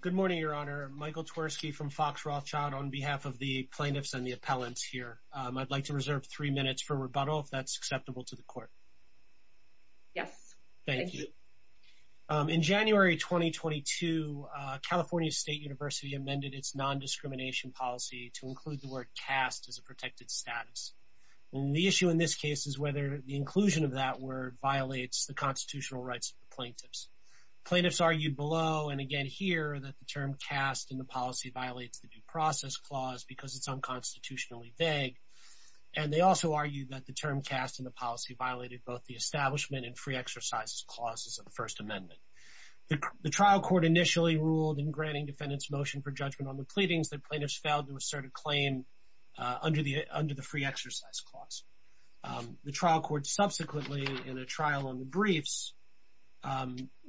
Good morning, Your Honor. Michael Twersky from Fox Rothschild on behalf of the plaintiffs and the appellants here. I'd like to reserve three minutes for rebuttal if that's acceptable to the court. Yes. Thank you. In January 2022, California State University amended its non-discrimination policy to include the word cast as a protected status. The issue in this case is whether the inclusion of that word violates the constitutional rights of the plaintiffs. Plaintiffs argued below and again here that the term cast in the policy violates the due process clause because it's unconstitutionally vague and they also argued that the term cast in the policy violated both the establishment and free exercises clauses of the First Amendment. The trial court initially ruled in granting defendants motion for judgment on the pleadings that plaintiffs failed to assert a claim under the free exercise clause. The trial court subsequently, in a trial on the briefs,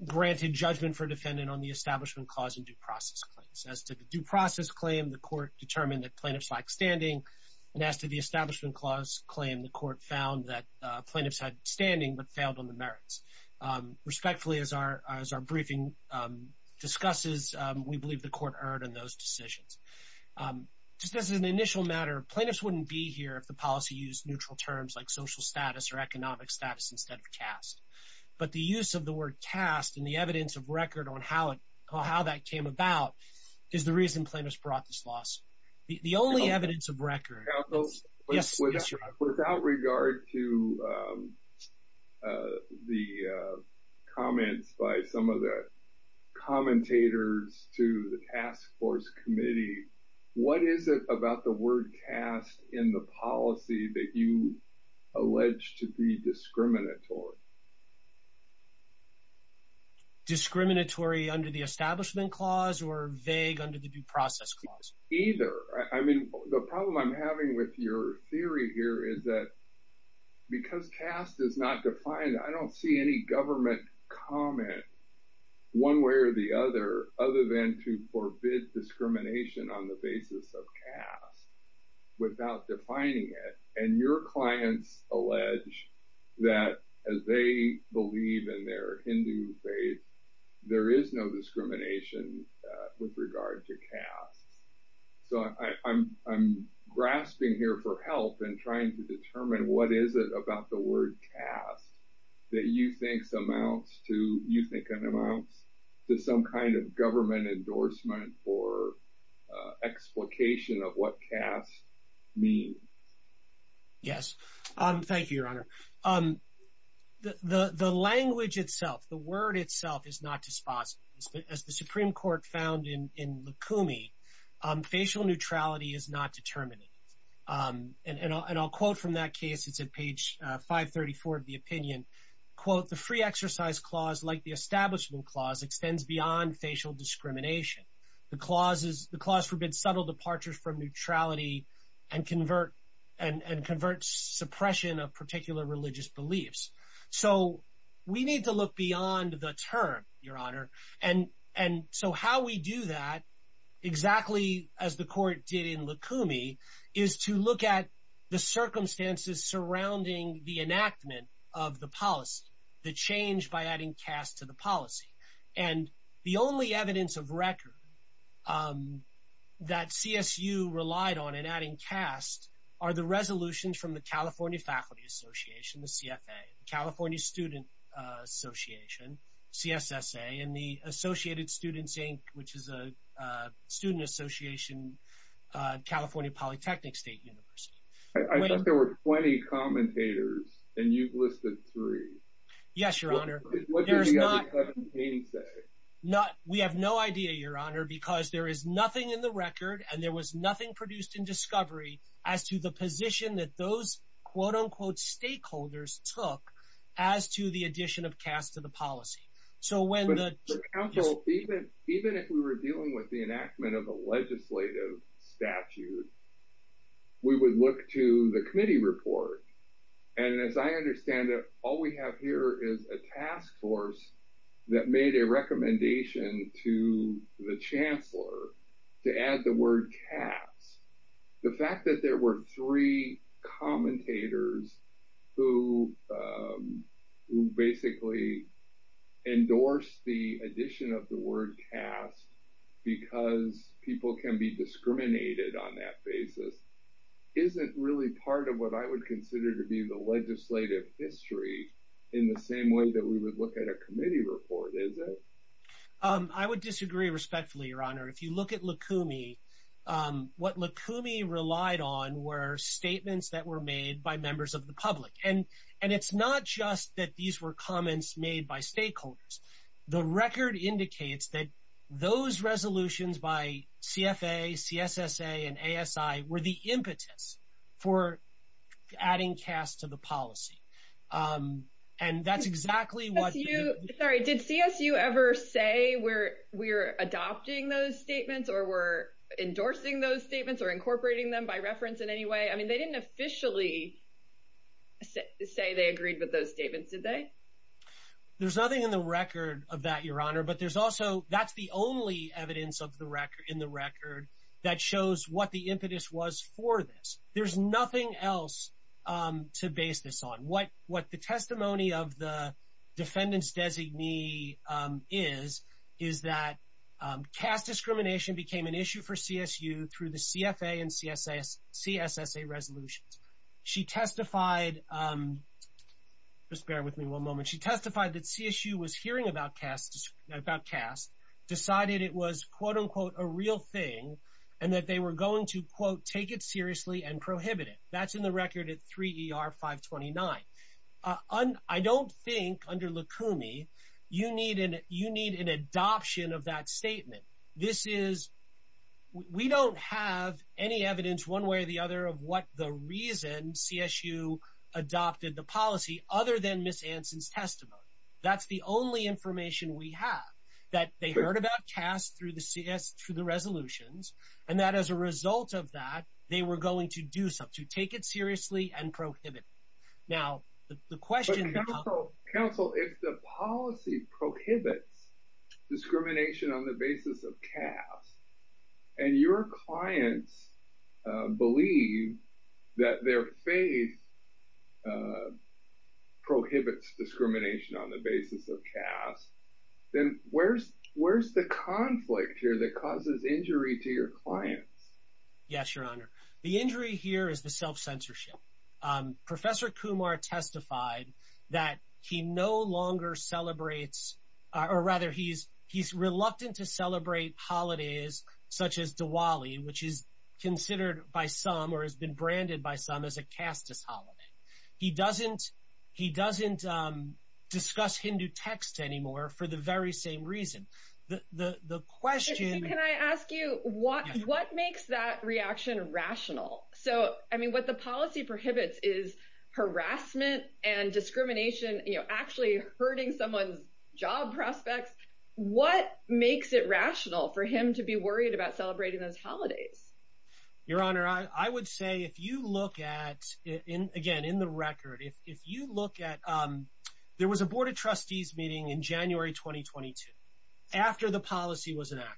granted judgment for defendant on the establishment clause and due process claims. As to the due process claim, the court determined that plaintiffs lacked standing and as to the establishment clause claim, the court found that plaintiffs had standing but failed on the merits. Respectfully, as our briefing discusses, we believe the court erred in those decisions. Just as an initial matter, plaintiffs wouldn't be here if the policy used neutral terms like social status or economic status instead of cast. But the use of the word cast and the evidence of record on how that came about is the reason plaintiffs brought this loss. The only evidence of record... Without regard to the comments by some of the commentators to the task force committee, what is it about the word cast in the policy that you allege to be discriminatory? Discriminatory under the establishment clause or vague under the due process clause? Either. I mean, the problem I'm having with your theory here is that because cast is not defined, I don't see any government comment one way or the other, other than to forbid discrimination on the basis of cast without defining it. And your clients allege that as they believe in their Hindu faith, there is no discrimination with regard to cast. So, I'm grasping here for help and trying to determine what is it about the word cast that you think amounts to some kind of endorsement or explication of what cast means. Yes. Thank you, Your Honor. The language itself, the word itself, is not dispositive. As the Supreme Court found in Lukumi, facial neutrality is not determinative. And I'll quote from that case. It's at page 534 of the opinion. Quote, the free exercise clause, like the establishment clause, extends beyond facial discrimination. The clause forbids subtle departures from neutrality and converts suppression of particular religious beliefs. So, we need to look beyond the term, Your Honor. And so, how we do that, exactly as the court did in Lukumi, is to look at the circumstances surrounding the enactment of the policy, the change by adding cast to the policy. And the only evidence of record that CSU relied on in adding cast are the resolutions from the California Faculty Association, the CFA, California Student Association, CSSA, and the Associated Students, Inc., which is a student association, California Polytechnic State University. I thought there were 20 commentators, and you've listed three. Yes, Your Honor. We have no idea, Your Honor, because there is nothing in the record, and there was nothing produced in discovery as to the position that those quote-unquote stakeholders took as to the addition of cast to the policy. So, when the... Counsel, even if we were dealing with the enactment of a legislative statute, we would look to the committee report. And as I understand it, all we have here is a task force that made a recommendation to the Chancellor to add the word cast. The fact that there were three commentators who basically endorsed the addition of the word cast because people can be discriminated on that basis isn't really part of what I would consider to be the legislative history in the same way that we would look at a committee report, is it? I would disagree respectfully, Your Honor. If you look at Lukumi, what Lukumi relied on were statements that were made by members of the public. And it's not just that these were comments made by stakeholders. The record indicates that those resolutions by CFA, CSSA, and ASI were the impetus for adding cast to the policy. And that's exactly what... Did CSU ever say we're adopting those statements or we're endorsing those statements or incorporating them by reference in any way? I mean, they didn't officially say they agreed with those statements, did they? There's nothing in the record of that, Your Honor. But there's also, that's the only evidence in the record that shows what the impetus was for this. There's nothing else to base this on. What the testimony of the defendant's designee is, is that cast discrimination became an issue for CSU through the CFA and CSSA resolutions. She testified... Just bear with me one moment. She testified that CSU was hearing about cast, decided it was, quote-unquote, a real thing, and that they were going to, quote, take it seriously and prohibit it. That's in the record at 3 ER 529. I don't think under Lukumi, you need an adoption of that statement. This is... We don't have any evidence one way or the other of what the reason CSU adopted the policy other than Ms. Anson's testimony. That's the only information we have, that they heard about cast through the CS, through the resolutions, and that as a result of that, they were going to do something, take it seriously and prohibit it. Now, the question... But counsel, counsel, if the policy prohibits discrimination on the basis of cast, and your clients believe that their faith prohibits discrimination on the basis of cast, then where's the conflict here that causes injury to your clients? Yes, Your Honor. The injury here is the self-censorship. Professor Kumar testified that he no longer celebrates, or rather, he's reluctant to celebrate holidays such as Diwali, which is considered by some or has been branded by some as a casteist holiday. He doesn't discuss Hindu texts anymore for the very same reason. The question... Can I ask you, what makes that reaction rational? So, I mean, what the policy prohibits is harassment and discrimination, actually hurting someone's job prospects. What makes it rational for him to be worried about celebrating those holidays? Your Honor, I would say if you look at... Again, in the record, if you look at... There was a board of trustees meeting in January, 2022, after the policy was enacted.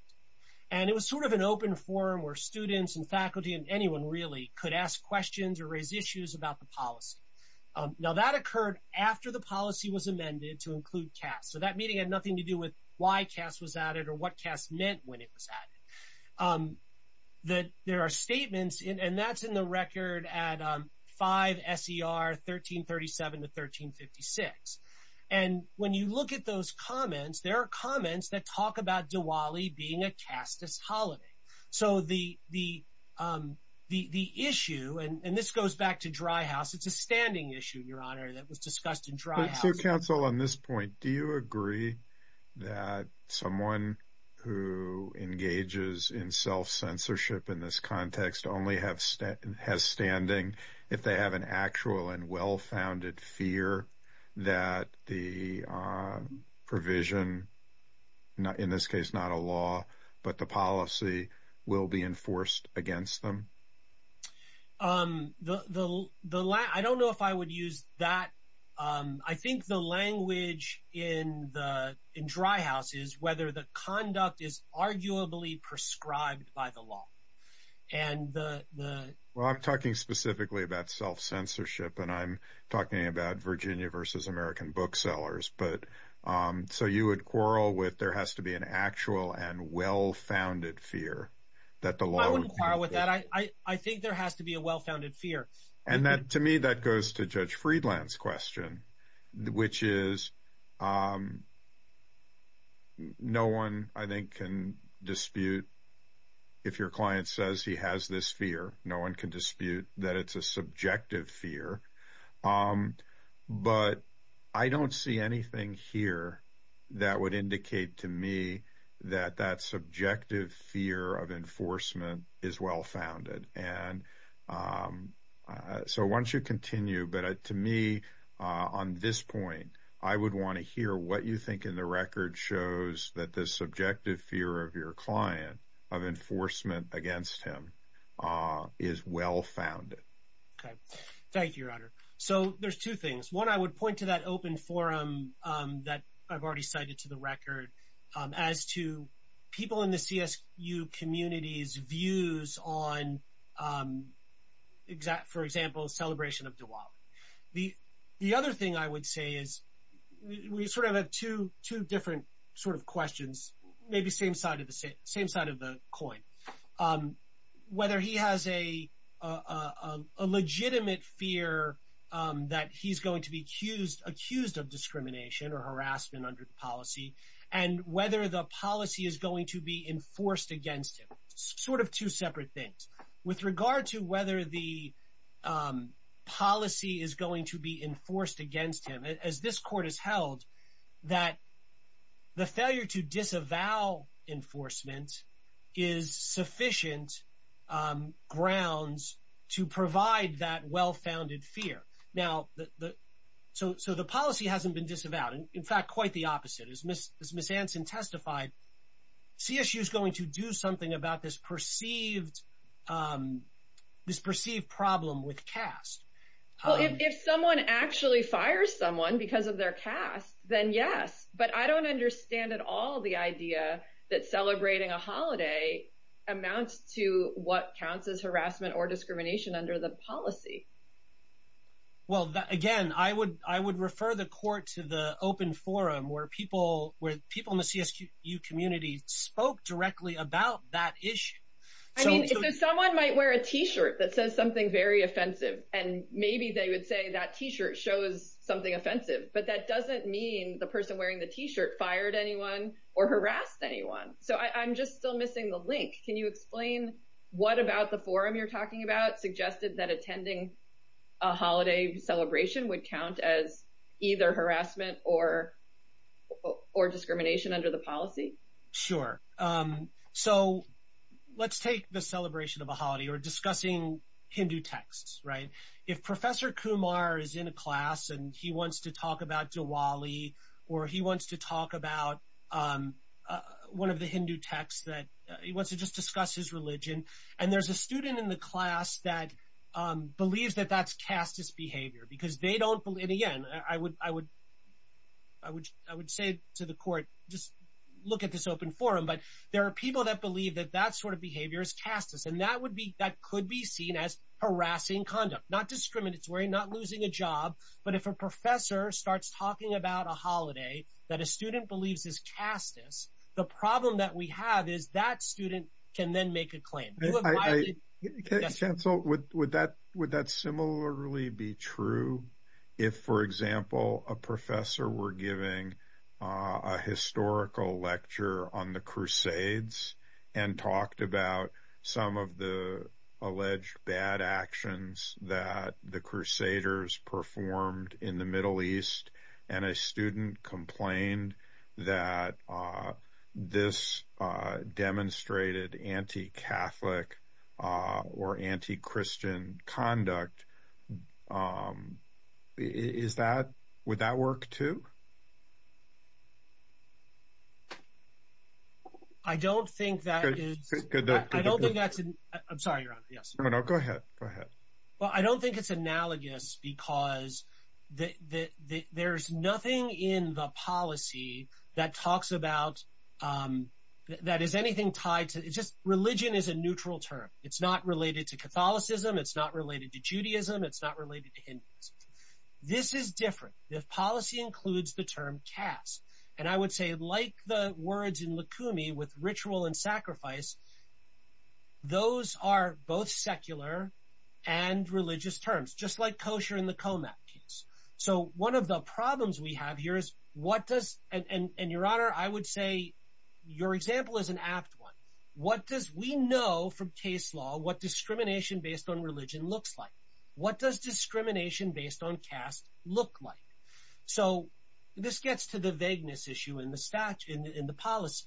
And it was sort of an open forum where students and faculty and anyone really could ask questions or raise issues about the policy. Now, that occurred after the policy was amended to include caste. So that meeting had nothing to do with why caste was added or what caste meant when it was added. There are statements, and that's in the record at 5 S.E.R. 1337 to 1356. And when you at those comments, there are comments that talk about Diwali being a casteist holiday. So the issue... And this goes back to dry house. It's a standing issue, Your Honor, that was discussed in dry house. So, counsel, on this point, do you agree that someone who engages in self-censorship in this context only has standing if they have an actual and well-founded fear that the provision, in this case, not a law, but the policy will be enforced against them? I don't know if I would use that. I think the language in dry house is whether the conduct is arguably prescribed by the law. And the... Well, I'm talking specifically about self-censorship, and I'm talking about Virginia versus American booksellers. So you would quarrel with there has to be an actual and well-founded fear that the law... I wouldn't quarrel with that. I think there has to be a well-founded fear. And to me, that goes to Judge Friedland's question, which is no one, I think, can dispute. If your client says he has this fear, no one can dispute that it's a subjective fear. But I don't see anything here that would indicate to me that that subjective fear of enforcement is well-founded. And so once you continue, but to me, on this point, I would want to hear what you think in the record shows that the subjective fear of your client of enforcement against him is well-founded. Okay. Thank you, Your Honor. So there's two things. One, I would point to that open forum that I've already cited to the record as to people in the CSU community's views on, for example, celebration of Diwali. The other thing I would say is we sort of have two different sort of questions, maybe same side of the coin. Whether he has a legitimate fear that he's going to be accused of discrimination or harassment under the policy, and whether the policy is going to be enforced against him. Sort of two separate things. With regard to whether the policy is going to be enforced against him, as this court has held that the failure to disavow enforcement is sufficient grounds to provide that well-founded fear. Now, so the policy hasn't been disavowed. In fact, quite the opposite. As Ms. Anson testified, CSU is going to do something about this perceived problem with caste. Well, if someone actually fires someone because of their caste, then yes. But I don't understand at all the idea that celebrating a holiday amounts to what counts as harassment or discrimination under the policy. Well, again, I would refer the court to the open forum where people in the CSU community spoke directly about that issue. I mean, someone might wear a t-shirt that says something very offensive, and maybe they would say that t-shirt shows something offensive. But that doesn't mean the person wearing the t-shirt fired anyone or harassed anyone. So I'm just still missing the link. Can you explain what about the forum you're talking about suggested that attending a holiday celebration would count as either harassment or discrimination under the policy? Sure. So let's take the celebration of a holiday or discussing Hindu texts, right? If Professor Kumar is in a class and he wants to talk about Diwali or he wants to talk about one of the Hindu texts that he wants to just discuss his religion, and there's a student in the class that believes that that's casteist behavior because they don't believe, and again, I would say to the court, just look at this open forum. But there are people that believe that that sort of behavior is casteist, and that could be seen as harassing conduct, not discriminatory, not losing a job. But if a professor starts talking about a holiday that a student believes is casteist, the problem that we have is that student can then make a claim. Would that similarly be true if, for example, a professor were giving a historical lecture on the Crusades and talked about some of the alleged bad actions that the Crusaders performed in the Middle East, and a student complained that this demonstrated anti-Catholic or anti-Christian conduct? Would that work too? I'm sorry, Your Honor. Go ahead. Well, I don't think it's analogous because there's nothing in the policy that talks about, that is anything tied to, just religion is a neutral term. It's not related to Catholicism. It's not related to Judaism. It's not related to Hinduism. This is different. The policy includes the term caste. And I would say like the words in Lukumi with ritual and sacrifice, those are both secular and religious terms, just like kosher in the Comat case. So one of the problems we have here is what does, and Your Honor, I would say your example is an apt one. What does we know from case law, what discrimination based on religion looks like? What does discrimination based on caste look like? So this gets to the vagueness issue in the statute, in the policy.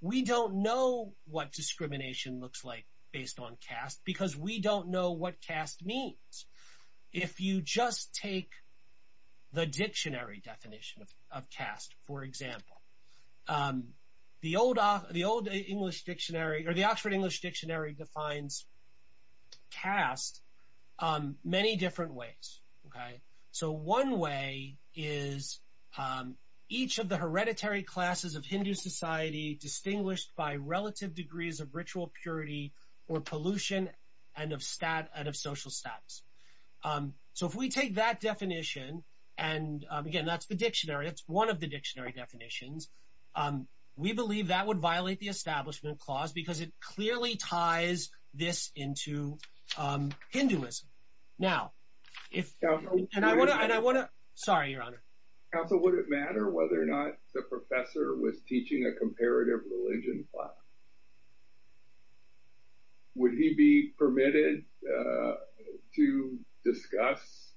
We don't know what discrimination looks like based on caste because we don't know what caste means. If you just take the dictionary definition of caste, for example, the old English dictionary, or the Oxford English Dictionary defines caste many different ways. So one way is each of the hereditary classes of Hindu society distinguished by relative degrees of ritual purity or pollution and of social status. So if we take that definition, and again, that's the dictionary, it's one of the dictionary definitions, we believe that would violate the establishment clause because it clearly ties this into Hinduism. Now, if, and I want to, sorry, Your Honor. Counsel, would it matter whether or not the professor was teaching a comparative religion class? Would he be permitted to discuss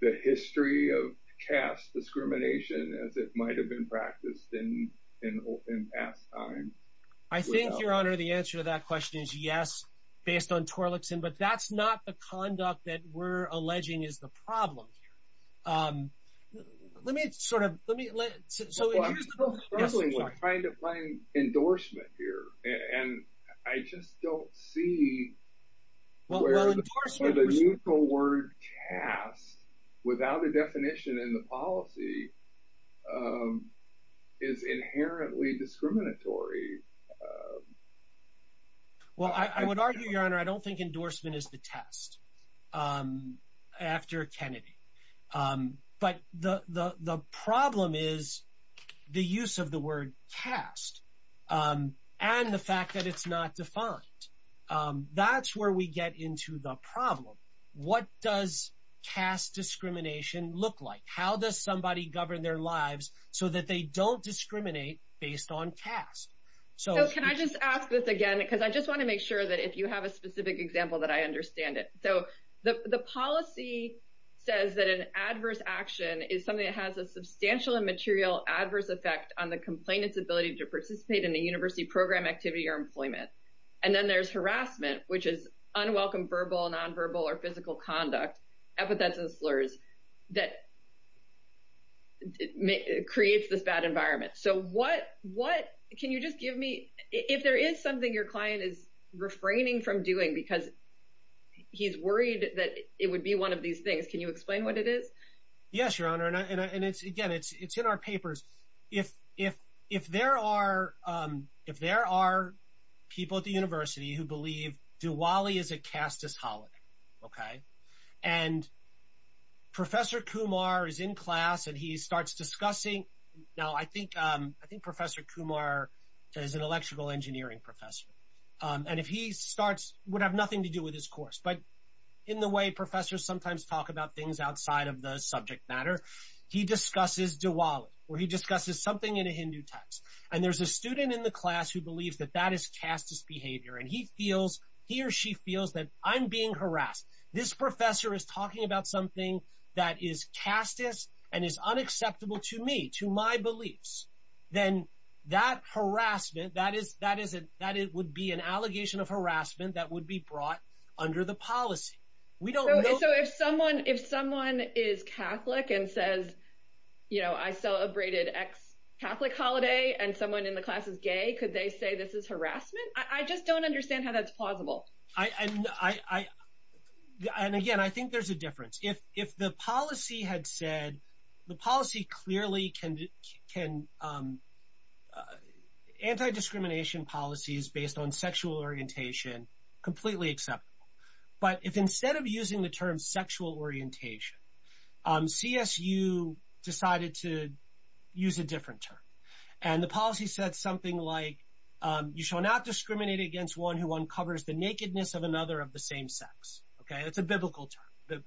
the history of caste discrimination as it might have been in past times? I think, Your Honor, the answer to that question is yes, based on Torlakson, but that's not the conduct that we're alleging is the problem here. Let me sort of, let me, so here's the problem. I'm struggling with trying to find endorsement here, and I just don't see where the neutral word caste without a definition in the policy is inherently discriminatory. Well, I would argue, Your Honor, I don't think endorsement is the test after Kennedy, but the problem is the use of the word caste and the fact that it's not defined. That's where we get into the problem. What does caste discrimination look like? How does somebody govern their lives so that they don't discriminate based on caste? So can I just ask this again, because I just want to make sure that if you have a specific example that I understand it. So the policy says that an adverse action is something that has a substantial and material adverse effect on the complainant's ability to participate in a university program, activity, or employment. And then there's harassment, which is unwelcome verbal, nonverbal, or physical conduct, epithets and slurs that creates this bad environment. So what, can you just give me, if there is something your client is refraining from doing because he's worried that it would be one of these things, can you explain what it is? Yes, Your Honor, and it's, again, it's in our papers. If there are people at the university who believe Diwali is a casteist holiday, okay, and Professor Kumar is in class and he starts discussing, now I think, I think Professor Kumar is an electrical engineering professor. And if he starts, would have nothing to do with his course, but in the way professors sometimes talk about things outside of the subject matter, he discusses Diwali, where he discusses something in a Hindu text. And there's a student in the class who believes that that is casteist behavior. And he feels, he or she feels that I'm being harassed. This professor is talking about something that is casteist and is unacceptable to me, to my beliefs. Then that harassment, that is, that is, that it would be an allegation of harassment that would be brought under the policy. We don't know. So if someone, if someone is Catholic and says, you know, I celebrated ex-Catholic holiday and someone in the class is gay, could they say this is harassment? I just don't understand how that's plausible. I, I, I, I, and again, I think there's a difference. If, if the policy had said, the policy clearly can, can anti-discrimination policies based on sexual orientation, completely acceptable. But if instead of using the term sexual orientation, CSU decided to use a different term. And the policy said something like, you shall not discriminate against one who uncovers the nakedness of another of the same sex. Okay, that's a biblical term.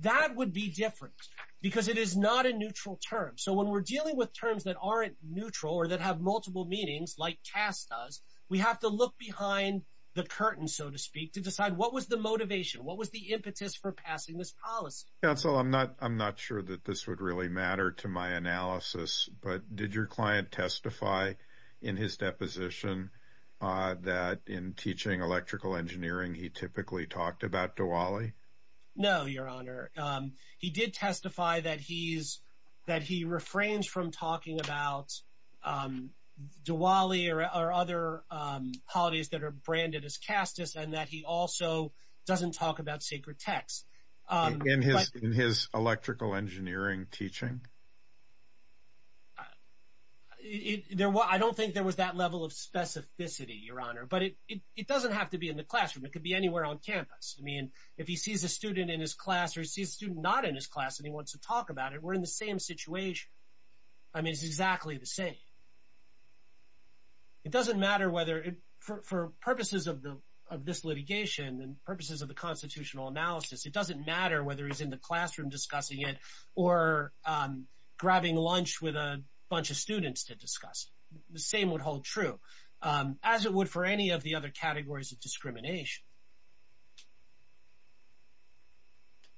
That would be different, because it is not a neutral term. So when we're dealing with terms that aren't neutral, or that have multiple meanings, like caste does, we have to look behind the curtain, so to speak, to decide what was the motivation, what was the impetus for passing this policy? Counsel, I'm not, I'm not sure that this would really matter to my analysis, but did your client testify in his deposition, that in teaching electrical engineering, he typically talked about Diwali? No, Your Honor. He did testify that he's, that he refrains from talking about Diwali or other holidays that are branded as casteist, and that he also doesn't talk about sacred texts. In his, in his electrical engineering teaching? There were, I don't think there was that level of specificity, Your Honor. But it, it doesn't have to be in the classroom. It could be anywhere on campus. I mean, if he sees a student in his class, or he sees a student not in his class, and he wants to talk about it, we're in the same situation. I mean, it's exactly the same. It doesn't matter whether, for purposes of the, of this litigation, and purposes of the constitutional analysis, it doesn't matter whether he's in the classroom discussing it, or grabbing lunch with a bunch of students to discuss. The same would hold true, as it would for any of the other categories of discrimination.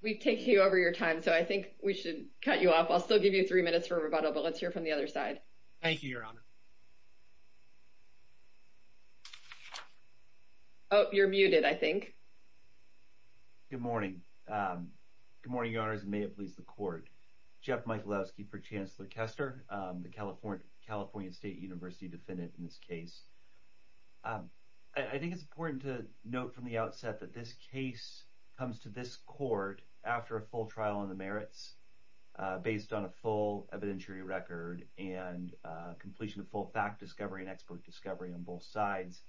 We've taken you over your time, so I think we should cut you off. I'll still give you three minutes for rebuttal, but let's hear from the other side. Thank you, Your Honor. Oh, you're muted, I think. Good morning. Good morning, Your Honors, and may it please the court. Jeff Michalowski for Chancellor Kester, the California State University defendant in this case. I think it's important to note from the outset that this case comes to this court after a full evidentiary record, and completion of full fact discovery and expert discovery on both sides.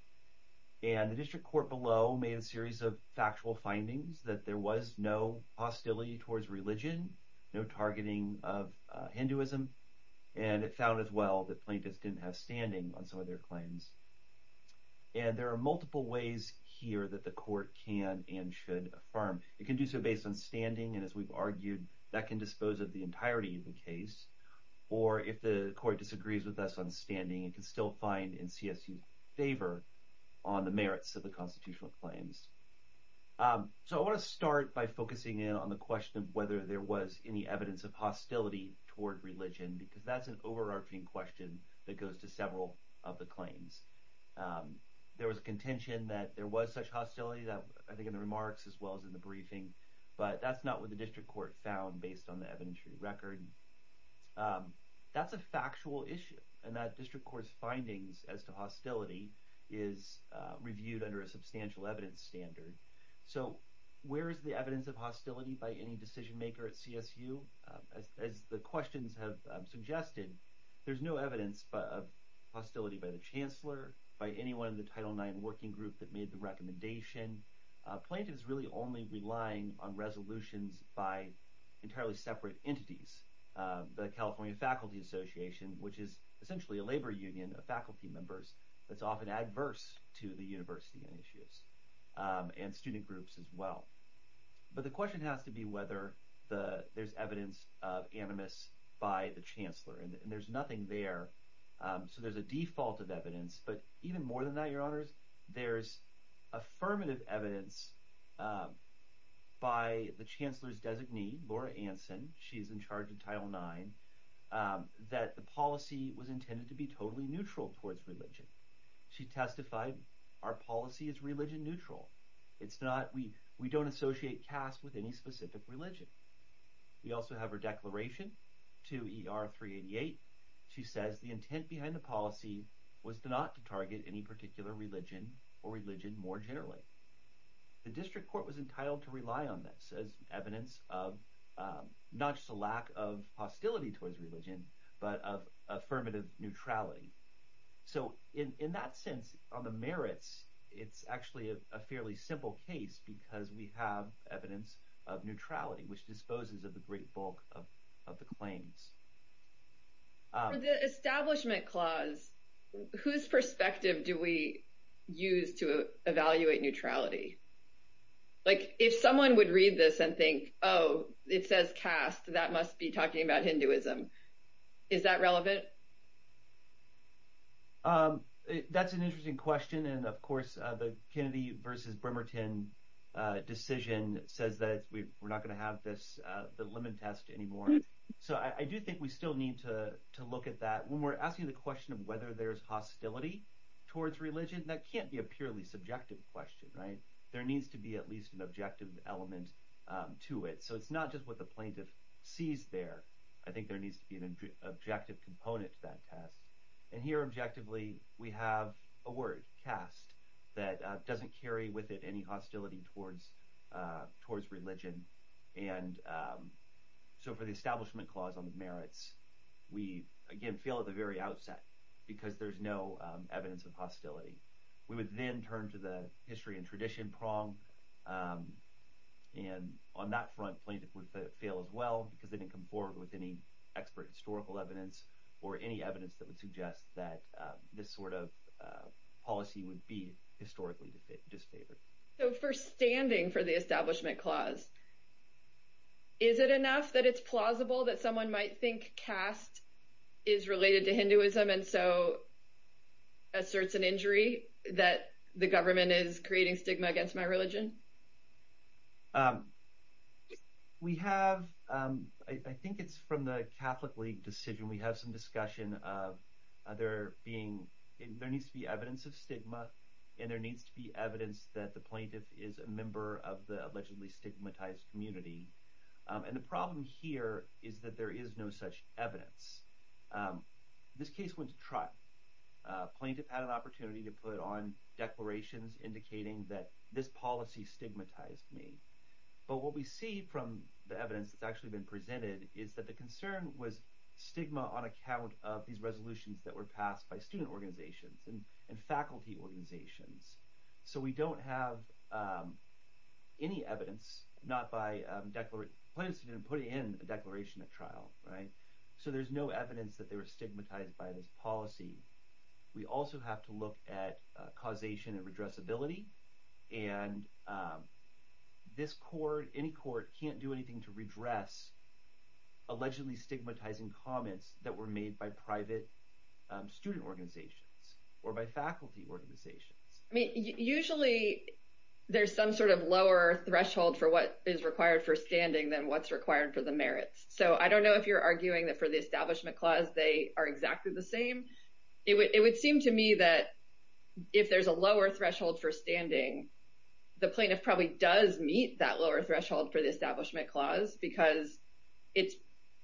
And the district court below made a series of factual findings that there was no hostility towards religion, no targeting of Hinduism, and it found as well that plaintiffs didn't have standing on some of their claims. And there are multiple ways here that the court can and should affirm. It can do so based on standing, and as we've argued, that can dispose of the entirety of the case. Or if the court disagrees with us on standing, it can still find in CSU's favor on the merits of the constitutional claims. So I want to start by focusing in on the question of whether there was any evidence of hostility toward religion, because that's an overarching question that goes to several of the claims. There was contention that there was such hostility, that I think in the remarks as well as in the briefing, but that's not what the district court found based on the evidentiary record. That's a factual issue, and that district court's findings as to hostility is reviewed under a substantial evidence standard. So where is the evidence of hostility by any decision maker at CSU? As the questions have suggested, there's no evidence of hostility by the chancellor, by anyone in the Title IX working group that made the recommendation. Plaintiff is really only relying on resolutions by entirely separate entities, the California Faculty Association, which is essentially a labor union of faculty members that's often adverse to the university on issues, and student groups as well. But the question has to be whether there's evidence of animus by the chancellor, and there's nothing there. So there's a default of evidence, but even more than that, your honors, there's affirmative evidence by the chancellor's designee, Laura Anson, she's in charge of Title IX, that the policy was intended to be totally neutral towards religion. She testified, our policy is religion neutral. We don't associate caste with any specific religion. We also have her declaration to ER388. She says the intent behind the policy was not to target any particular religion or religion more generally. The district court was entitled to rely on this as evidence of not just a lack of hostility towards religion, but of affirmative neutrality. So in that sense, on the merits, it's actually a fairly simple case because we have evidence of neutrality, which disposes of the great bulk of the claims. For the establishment clause, whose perspective do we use to evaluate neutrality? If someone would read this and think, oh, it says caste, that must be talking about Hinduism. Is that relevant? That's an interesting question. And of course, the Kennedy versus Bremerton decision says that we're not going to have this, the lemon test anymore. So I do think we still need to look at that. When we're asking the question of whether there's hostility towards religion, that can't be a purely subjective question, right? There needs to be at least an objective element to it. So it's not just what the plaintiff sees there. I think there needs to be an objective component to that test. And here, objectively, we have a word, caste, that doesn't carry with it any hostility towards religion. And so for the establishment clause on the merits, we, again, fail at the very outset because there's no evidence of hostility. We would then turn to the history and tradition prong. And on that front, plaintiff would fail as well because they didn't come forward with any expert historical evidence or any evidence that would suggest that this sort of policy would be historically disfavored. So for standing for the establishment clause, is it enough that it's plausible that someone might think caste is related to Hinduism and so asserts an injury that the government is creating stigma against my religion? We have, I think it's from the Catholic League decision, we have some discussion of there being, there needs to be evidence of stigma and there needs to be evidence that the plaintiff is a member of the allegedly stigmatized community. And the problem here is that there is no such evidence. This case went to trial. Plaintiff had an opportunity to put on declarations indicating that this policy stigmatized me. But what we see from the evidence that's actually been presented is that the concern was stigma on account of these resolutions that were passed by student organizations and faculty organizations. So we don't have any evidence, not by, plaintiffs didn't put in a declaration at trial, right? So there's no evidence that they were stigmatized by this policy. We also have to look at causation and redressability. And this court, any court can't do anything to redress allegedly stigmatizing comments that were made by private student organizations or by faculty organizations. I mean, usually there's some sort of lower threshold for what is required for standing than what's required for the merits. So I don't know if you're arguing that for the Establishment Clause, they are exactly the same. It would seem to me that if there's a lower threshold for standing, the plaintiff probably does meet that lower threshold for the Establishment Clause because it's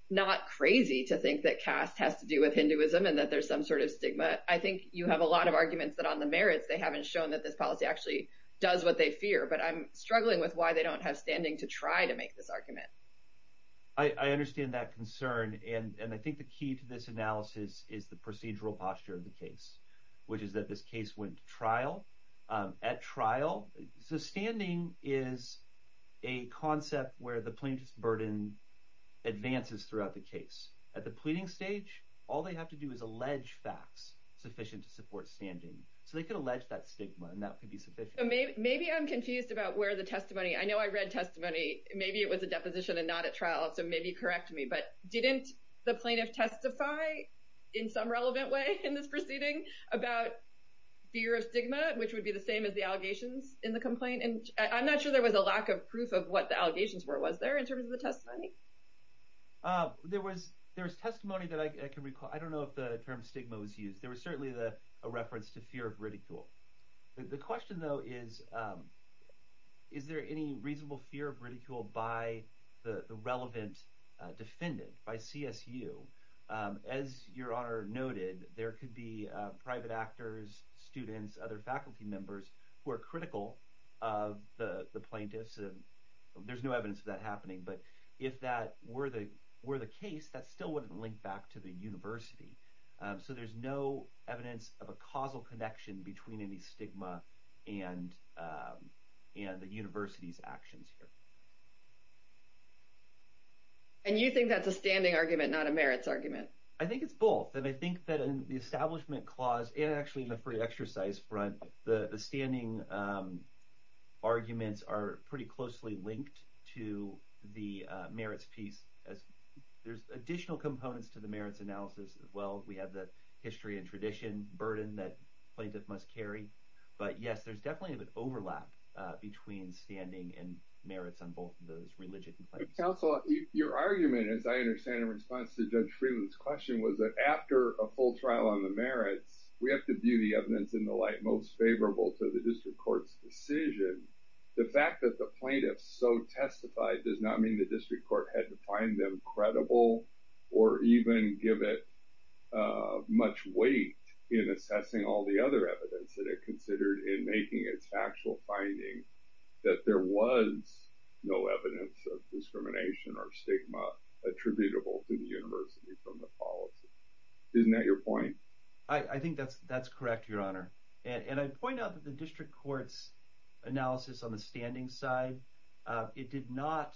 not crazy to think that caste has to do with Hinduism and that there's some sort of stigma. I think you have a lot of arguments that on the merits, they haven't shown that this policy actually does what they fear, but I'm struggling with why they don't have standing to try to make this argument. I understand that concern. And I think the key to this analysis is the procedural posture of the case, which is that this case went to trial. At trial, so standing is a concept where the plaintiff's burden advances throughout the case. At the pleading stage, all they have to do is allege facts sufficient to support standing. So they could allege that stigma and that could be sufficient. Maybe I'm confused about where the testimony, I know I read testimony, maybe it was a deposition and not at trial, so maybe correct me, but didn't the plaintiff testify in some relevant way in this proceeding about fear of stigma, which would be the same as the allegations in the complaint? And I'm not sure there was a lack of proof of what the allegations were. Was there in terms of the testimony? There was testimony that I can recall. I don't know if the term stigma was used. There was certainly a reference to fear of ridicule. The question though is, is there any reasonable fear of ridicule by the relevant defendant, by CSU? As your honor noted, there could be private actors, students, other faculty members who are critical of the plaintiffs. There's no evidence of that happening, but if that were the case, that still wouldn't link back to the university. So there's no evidence of a causal connection between any stigma and the university's actions here. And you think that's a standing argument, not a merits argument? I think it's both. And I think that in the establishment clause, and actually in the free exercise front, the standing arguments are pretty closely linked to the merits piece. There's additional components to the merits analysis as well. We have the history and burden that plaintiff must carry, but yes, there's definitely an overlap between standing and merits on both of those religious complaints. Counsel, your argument, as I understand in response to Judge Freeland's question, was that after a full trial on the merits, we have to view the evidence in the light most favorable to the district court's decision. The fact that the plaintiff so testified does not mean the district court had to find them credible or even give it much weight in assessing all the other evidence that it considered in making its factual finding that there was no evidence of discrimination or stigma attributable to the university from the policy. Isn't that your point? I think that's correct, Your Honor. And I point out that the district court's analysis on the standing side, it did not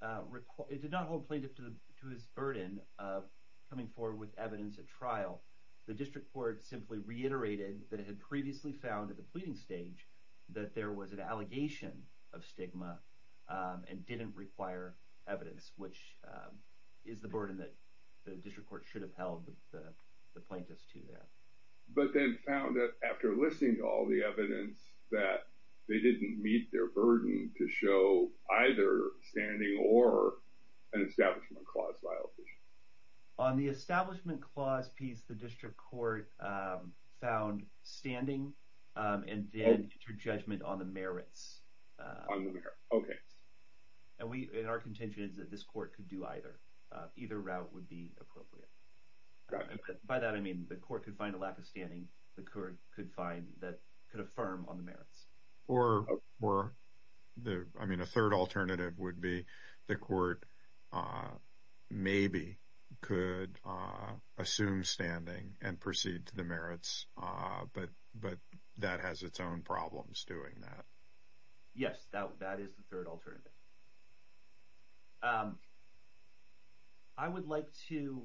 hold plaintiff to his burden of coming forward with evidence at trial. The district court simply reiterated that it had previously found at the pleading stage that there was an allegation of stigma and didn't require evidence, which is the burden that the district court should have held the plaintiffs to that. But then found that after listening to all the evidence that they didn't meet their burden to show either standing or an Establishment Clause violation. On the Establishment Clause piece, the district court found standing and then interjudgment on the merits. On the merits, okay. And our contention is that this court could do either. Either route would be appropriate. By that, I mean the court could find a lack of standing. The court could find that could affirm on the merits. Or I mean, a third alternative would be the court maybe could assume standing and proceed to the merits, but that has its own problems doing that. Yes, that is the third alternative. I would like to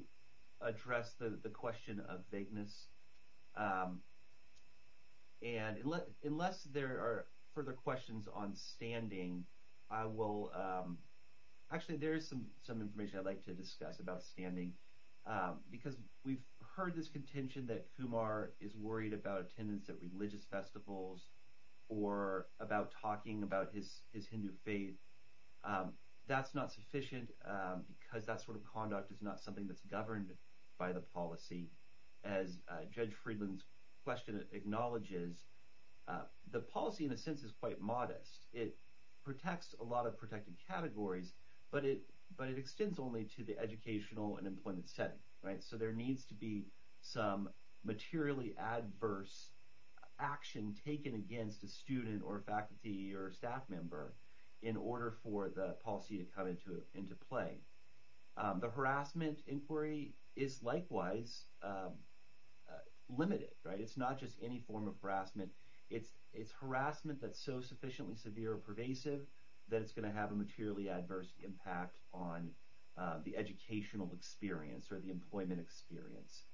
address the question of vagueness. And unless there are further questions on standing, I will. Actually, there is some information I'd like to discuss about standing. Because we've heard this contention that Kumar is worried about attendance at religious festivals or about talking about his Hindu faith. That's not sufficient because that sort of conduct is not something that's governed by the policy. As Judge Friedland's question acknowledges, the policy in a sense is quite modest. It protects a lot of protected categories, but it extends only to the educational and employment setting. So there needs to be some materially adverse action taken against a student or a faculty or a staff member in order for the policy to come into play. The harassment inquiry is likewise limited. It's not just any form of harassment. It's harassment that's so sufficiently severe or pervasive that it's going to have a materially adverse impact on the educational experience or the employment experience.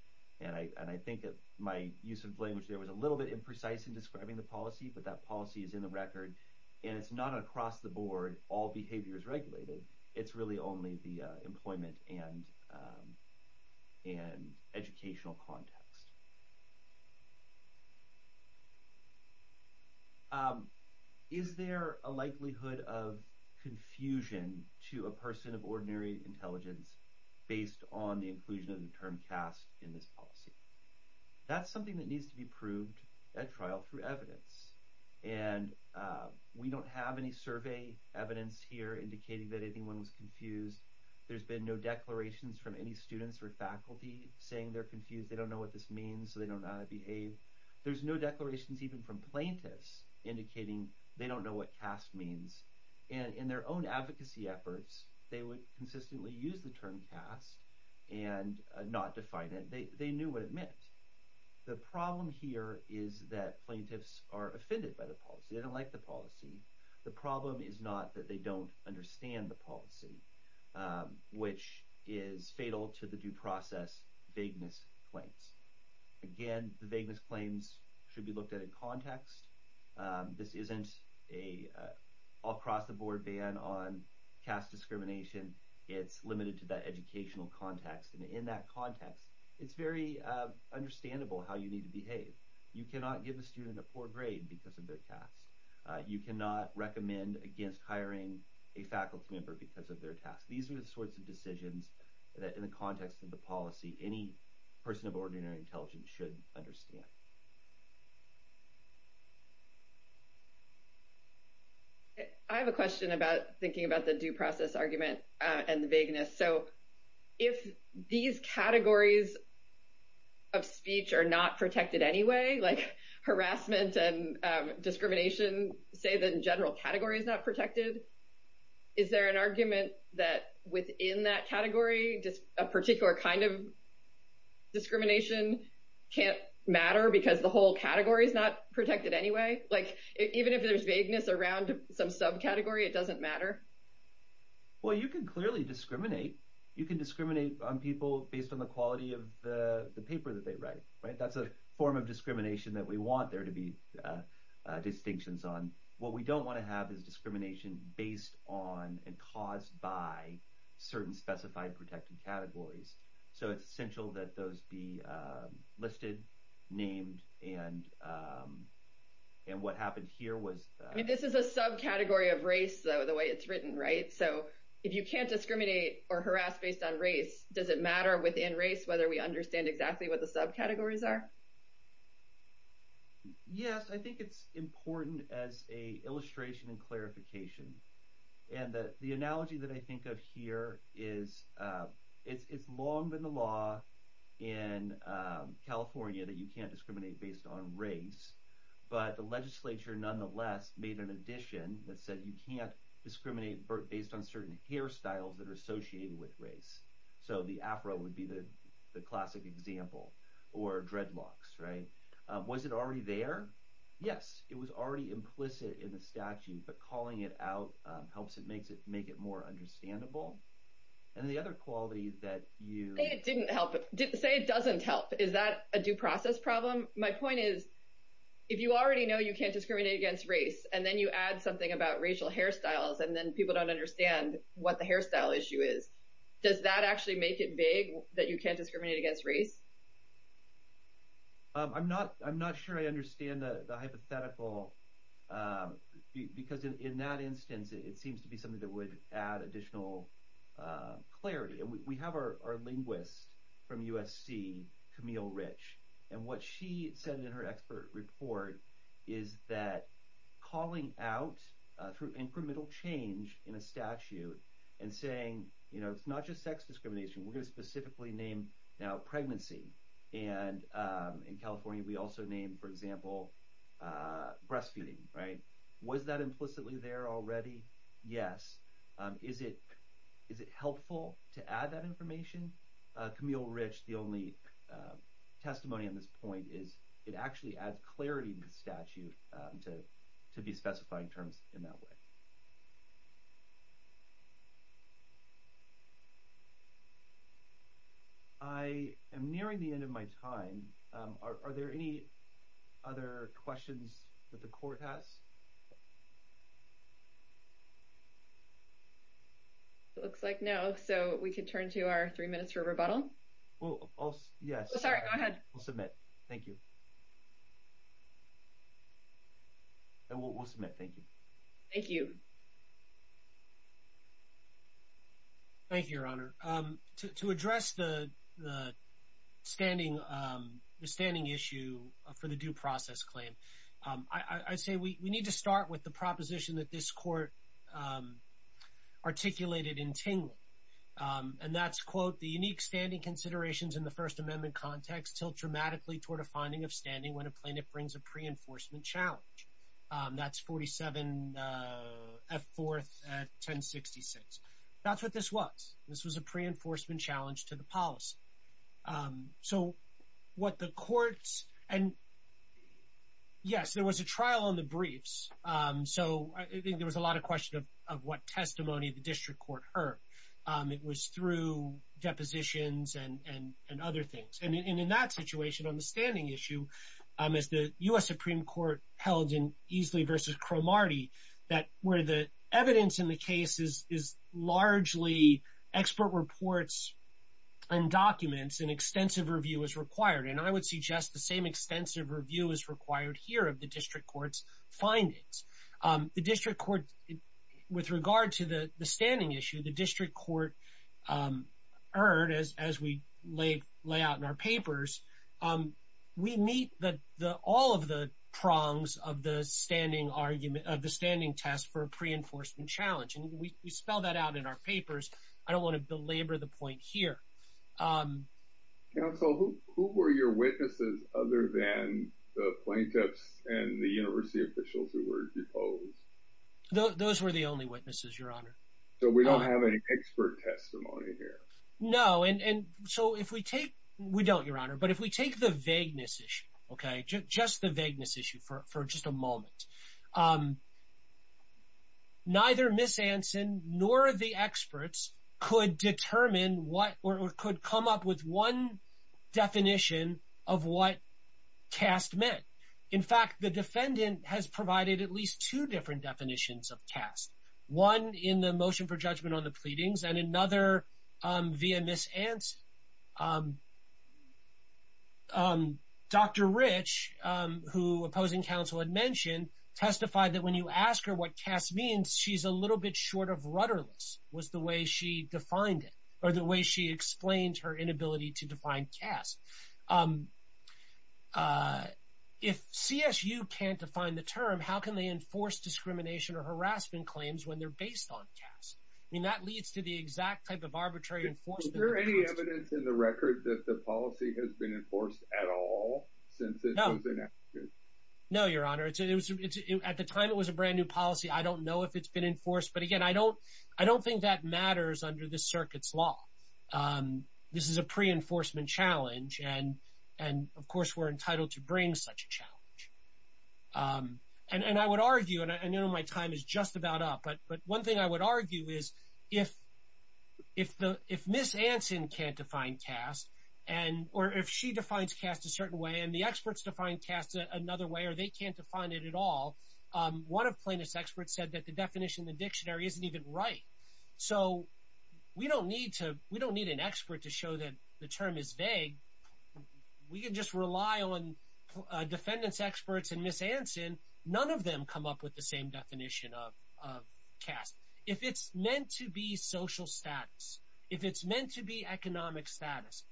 And I think that my use of language there was a little bit imprecise in describing the policy, but that policy is in the record. And it's not across the board, all behavior is regulated. It's really only the employment and educational context. Is there a likelihood of confusion to a person of ordinary intelligence based on the inclusion of the term caste in this policy? That's something that needs to be proved at trial through evidence. And we don't have any survey evidence here indicating that anyone was confused. There's been no declarations from any students or faculty saying they're confused. They don't know what this means, so they don't know how to behave. There's no declarations even from plaintiffs indicating they don't know what caste means. And in their own advocacy efforts, they would consistently use the term caste and not define it. They knew what it meant. The problem here is that plaintiffs are offended by the policy. They don't like the policy. The problem is not that they don't understand the policy, which is fatal to the due process vagueness claims. Again, the vagueness claims should be looked at in context. This isn't a all-across-the-board ban on caste discrimination. It's limited to that educational context. And in that context, it's very understandable how you need to behave. You cannot give a student a poor grade because of their caste. You cannot recommend against hiring a faculty member because of their caste. These are the sorts of decisions that, in the context of the policy, any person of ordinary intelligence should understand. I have a question about thinking about the due process argument and the vagueness. So, if these categories of speech are not protected anyway, like harassment and discrimination say that the general category is not protected, is there an argument that within that category, a particular kind of discrimination can't matter because the whole category is not protected anyway? Like, even if there's vagueness around some subcategory, it doesn't matter? Well, you can clearly discriminate. You can discriminate on people based on the quality of the paper that they write, right? That's a form of discrimination that we want there to be distinctions on. What we don't want to have is discrimination based on and caused by certain specified protected categories. So, it's essential that those be listed, named, and what happened here was... I mean, this is a subcategory of race, though, the way it's written, right? So, if you can't discriminate or harass based on race, does it matter within race whether we exactly what the subcategories are? Yes, I think it's important as a illustration and clarification. And the analogy that I think of here is it's long been the law in California that you can't discriminate based on race, but the legislature nonetheless made an addition that said you can't discriminate based on certain hairstyles that are associated with race. So, the Afro would be the classic example, or dreadlocks, right? Was it already there? Yes, it was already implicit in the statute, but calling it out helps it make it more understandable. And the other quality that you... Say it didn't help. Say it doesn't help. Is that a due process problem? My point is, if you already know you can't discriminate against race, and then you add something about racial hairstyles, and then people don't understand what the hairstyle issue is, does that actually make it vague that you can't discriminate against race? I'm not sure I understand the hypothetical because in that instance, it seems to be something that would add additional clarity. And we have our linguist from USC, Camille Rich, and what she said in her expert report is that calling out through incremental change in a statute and saying, you know, it's not just sex discrimination, we're going to specifically name now pregnancy. And in California, we also name, for example, breastfeeding, right? Was that implicitly there already? Yes. Is it helpful to add that information? Camille Rich, the only testimony on this point is it actually adds clarity to the statute to be specifying terms in that way. I am nearing the end of my time. Are there any other questions that the court has? It looks like no. So we could turn to our three minutes for rebuttal. Yes. Sorry, go ahead. We'll submit. Thank you. And we'll submit. Thank you. Thank you. Thank you, Your Honor. To address the standing issue for the due process claim, I say we need to start with the proposition that this court articulated in Tingley. And that's, quote, the unique standing considerations in the First Amendment context tilt dramatically toward a finding of standing when a plaintiff brings a pre-enforcement challenge. That's 47 F. 4th 1066. That's what this was. This was a pre-enforcement challenge to the policy. So what the courts and yes, there was a trial on the briefs. So I think there was a lot of of what testimony the district court heard. It was through depositions and other things. And in that situation on the standing issue, as the U.S. Supreme Court held in Easley versus Cromartie, that where the evidence in the case is largely expert reports and documents and extensive review is required. And I would suggest the same extensive review is required here of the district court's findings. The district court, with regard to the standing issue, the district court heard, as we lay out in our papers, we meet all of the prongs of the standing argument, of the standing test for a pre-enforcement challenge. And we spell that out in our papers. I don't want to belabor the point here. Counsel, who were your witnesses other than the plaintiffs and the university officials who were deposed? Those were the only witnesses, Your Honor. So we don't have any expert testimony here? No. And so if we take, we don't, Your Honor, but if we take the vagueness issue, okay, just the vagueness issue for just a moment, neither Ms. Anson nor the experts could determine what or could come up with one definition of what C.A.S.T. meant. In fact, the defendant has provided at least two different definitions of C.A.S.T. One in the motion for judgment on the pleadings and another via Ms. Anson. Dr. Rich, who opposing counsel had mentioned, testified that when you ask her what C.A.S.T. means, she's a little bit short of rudderless, was the way she defined it, or the way she explained her inability to define C.A.S.T. If CSU can't define the term, how can they enforce discrimination or harassment claims when they're based on C.A.S.T.? I mean, that leads to the exact type of arbitrary enforcement. Is there any evidence in the record that the policy has been enforced at all since it was enacted? No, Your Honor. At the time, it was a brand new policy. I don't know if it's been enforced, but again, I don't think that matters under the circuit's law. This is a pre-enforcement challenge, and of course, we're entitled to bring such a challenge. And I would argue, and I know my time is just about up, but one thing I would argue is if Ms. Anson can't define C.A.S.T. or if she defines C.A.S.T. a certain way and the experts define C.A.S.T. another way or they can't define it at all, one of plaintiff's experts said the definition in the dictionary isn't even right. So we don't need an expert to show that the term is vague. We can just rely on defendant's experts and Ms. Anson, none of them come up with the same definition of C.A.S.T. If it's meant to be social status, if it's meant to be economic status,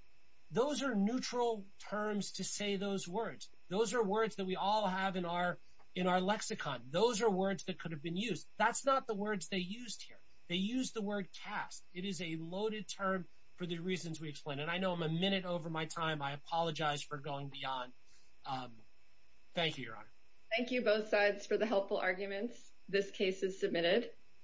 those are neutral terms to say those words. Those are words that we all have in our lexicon. Those are words that could have been used. That's not the words they used here. They use the word C.A.S.T. It is a loaded term for the reasons we explained. And I know I'm a minute over my time. I apologize for going beyond. Thank you, Your Honor. Thank you both sides for the helpful arguments. This case is submitted.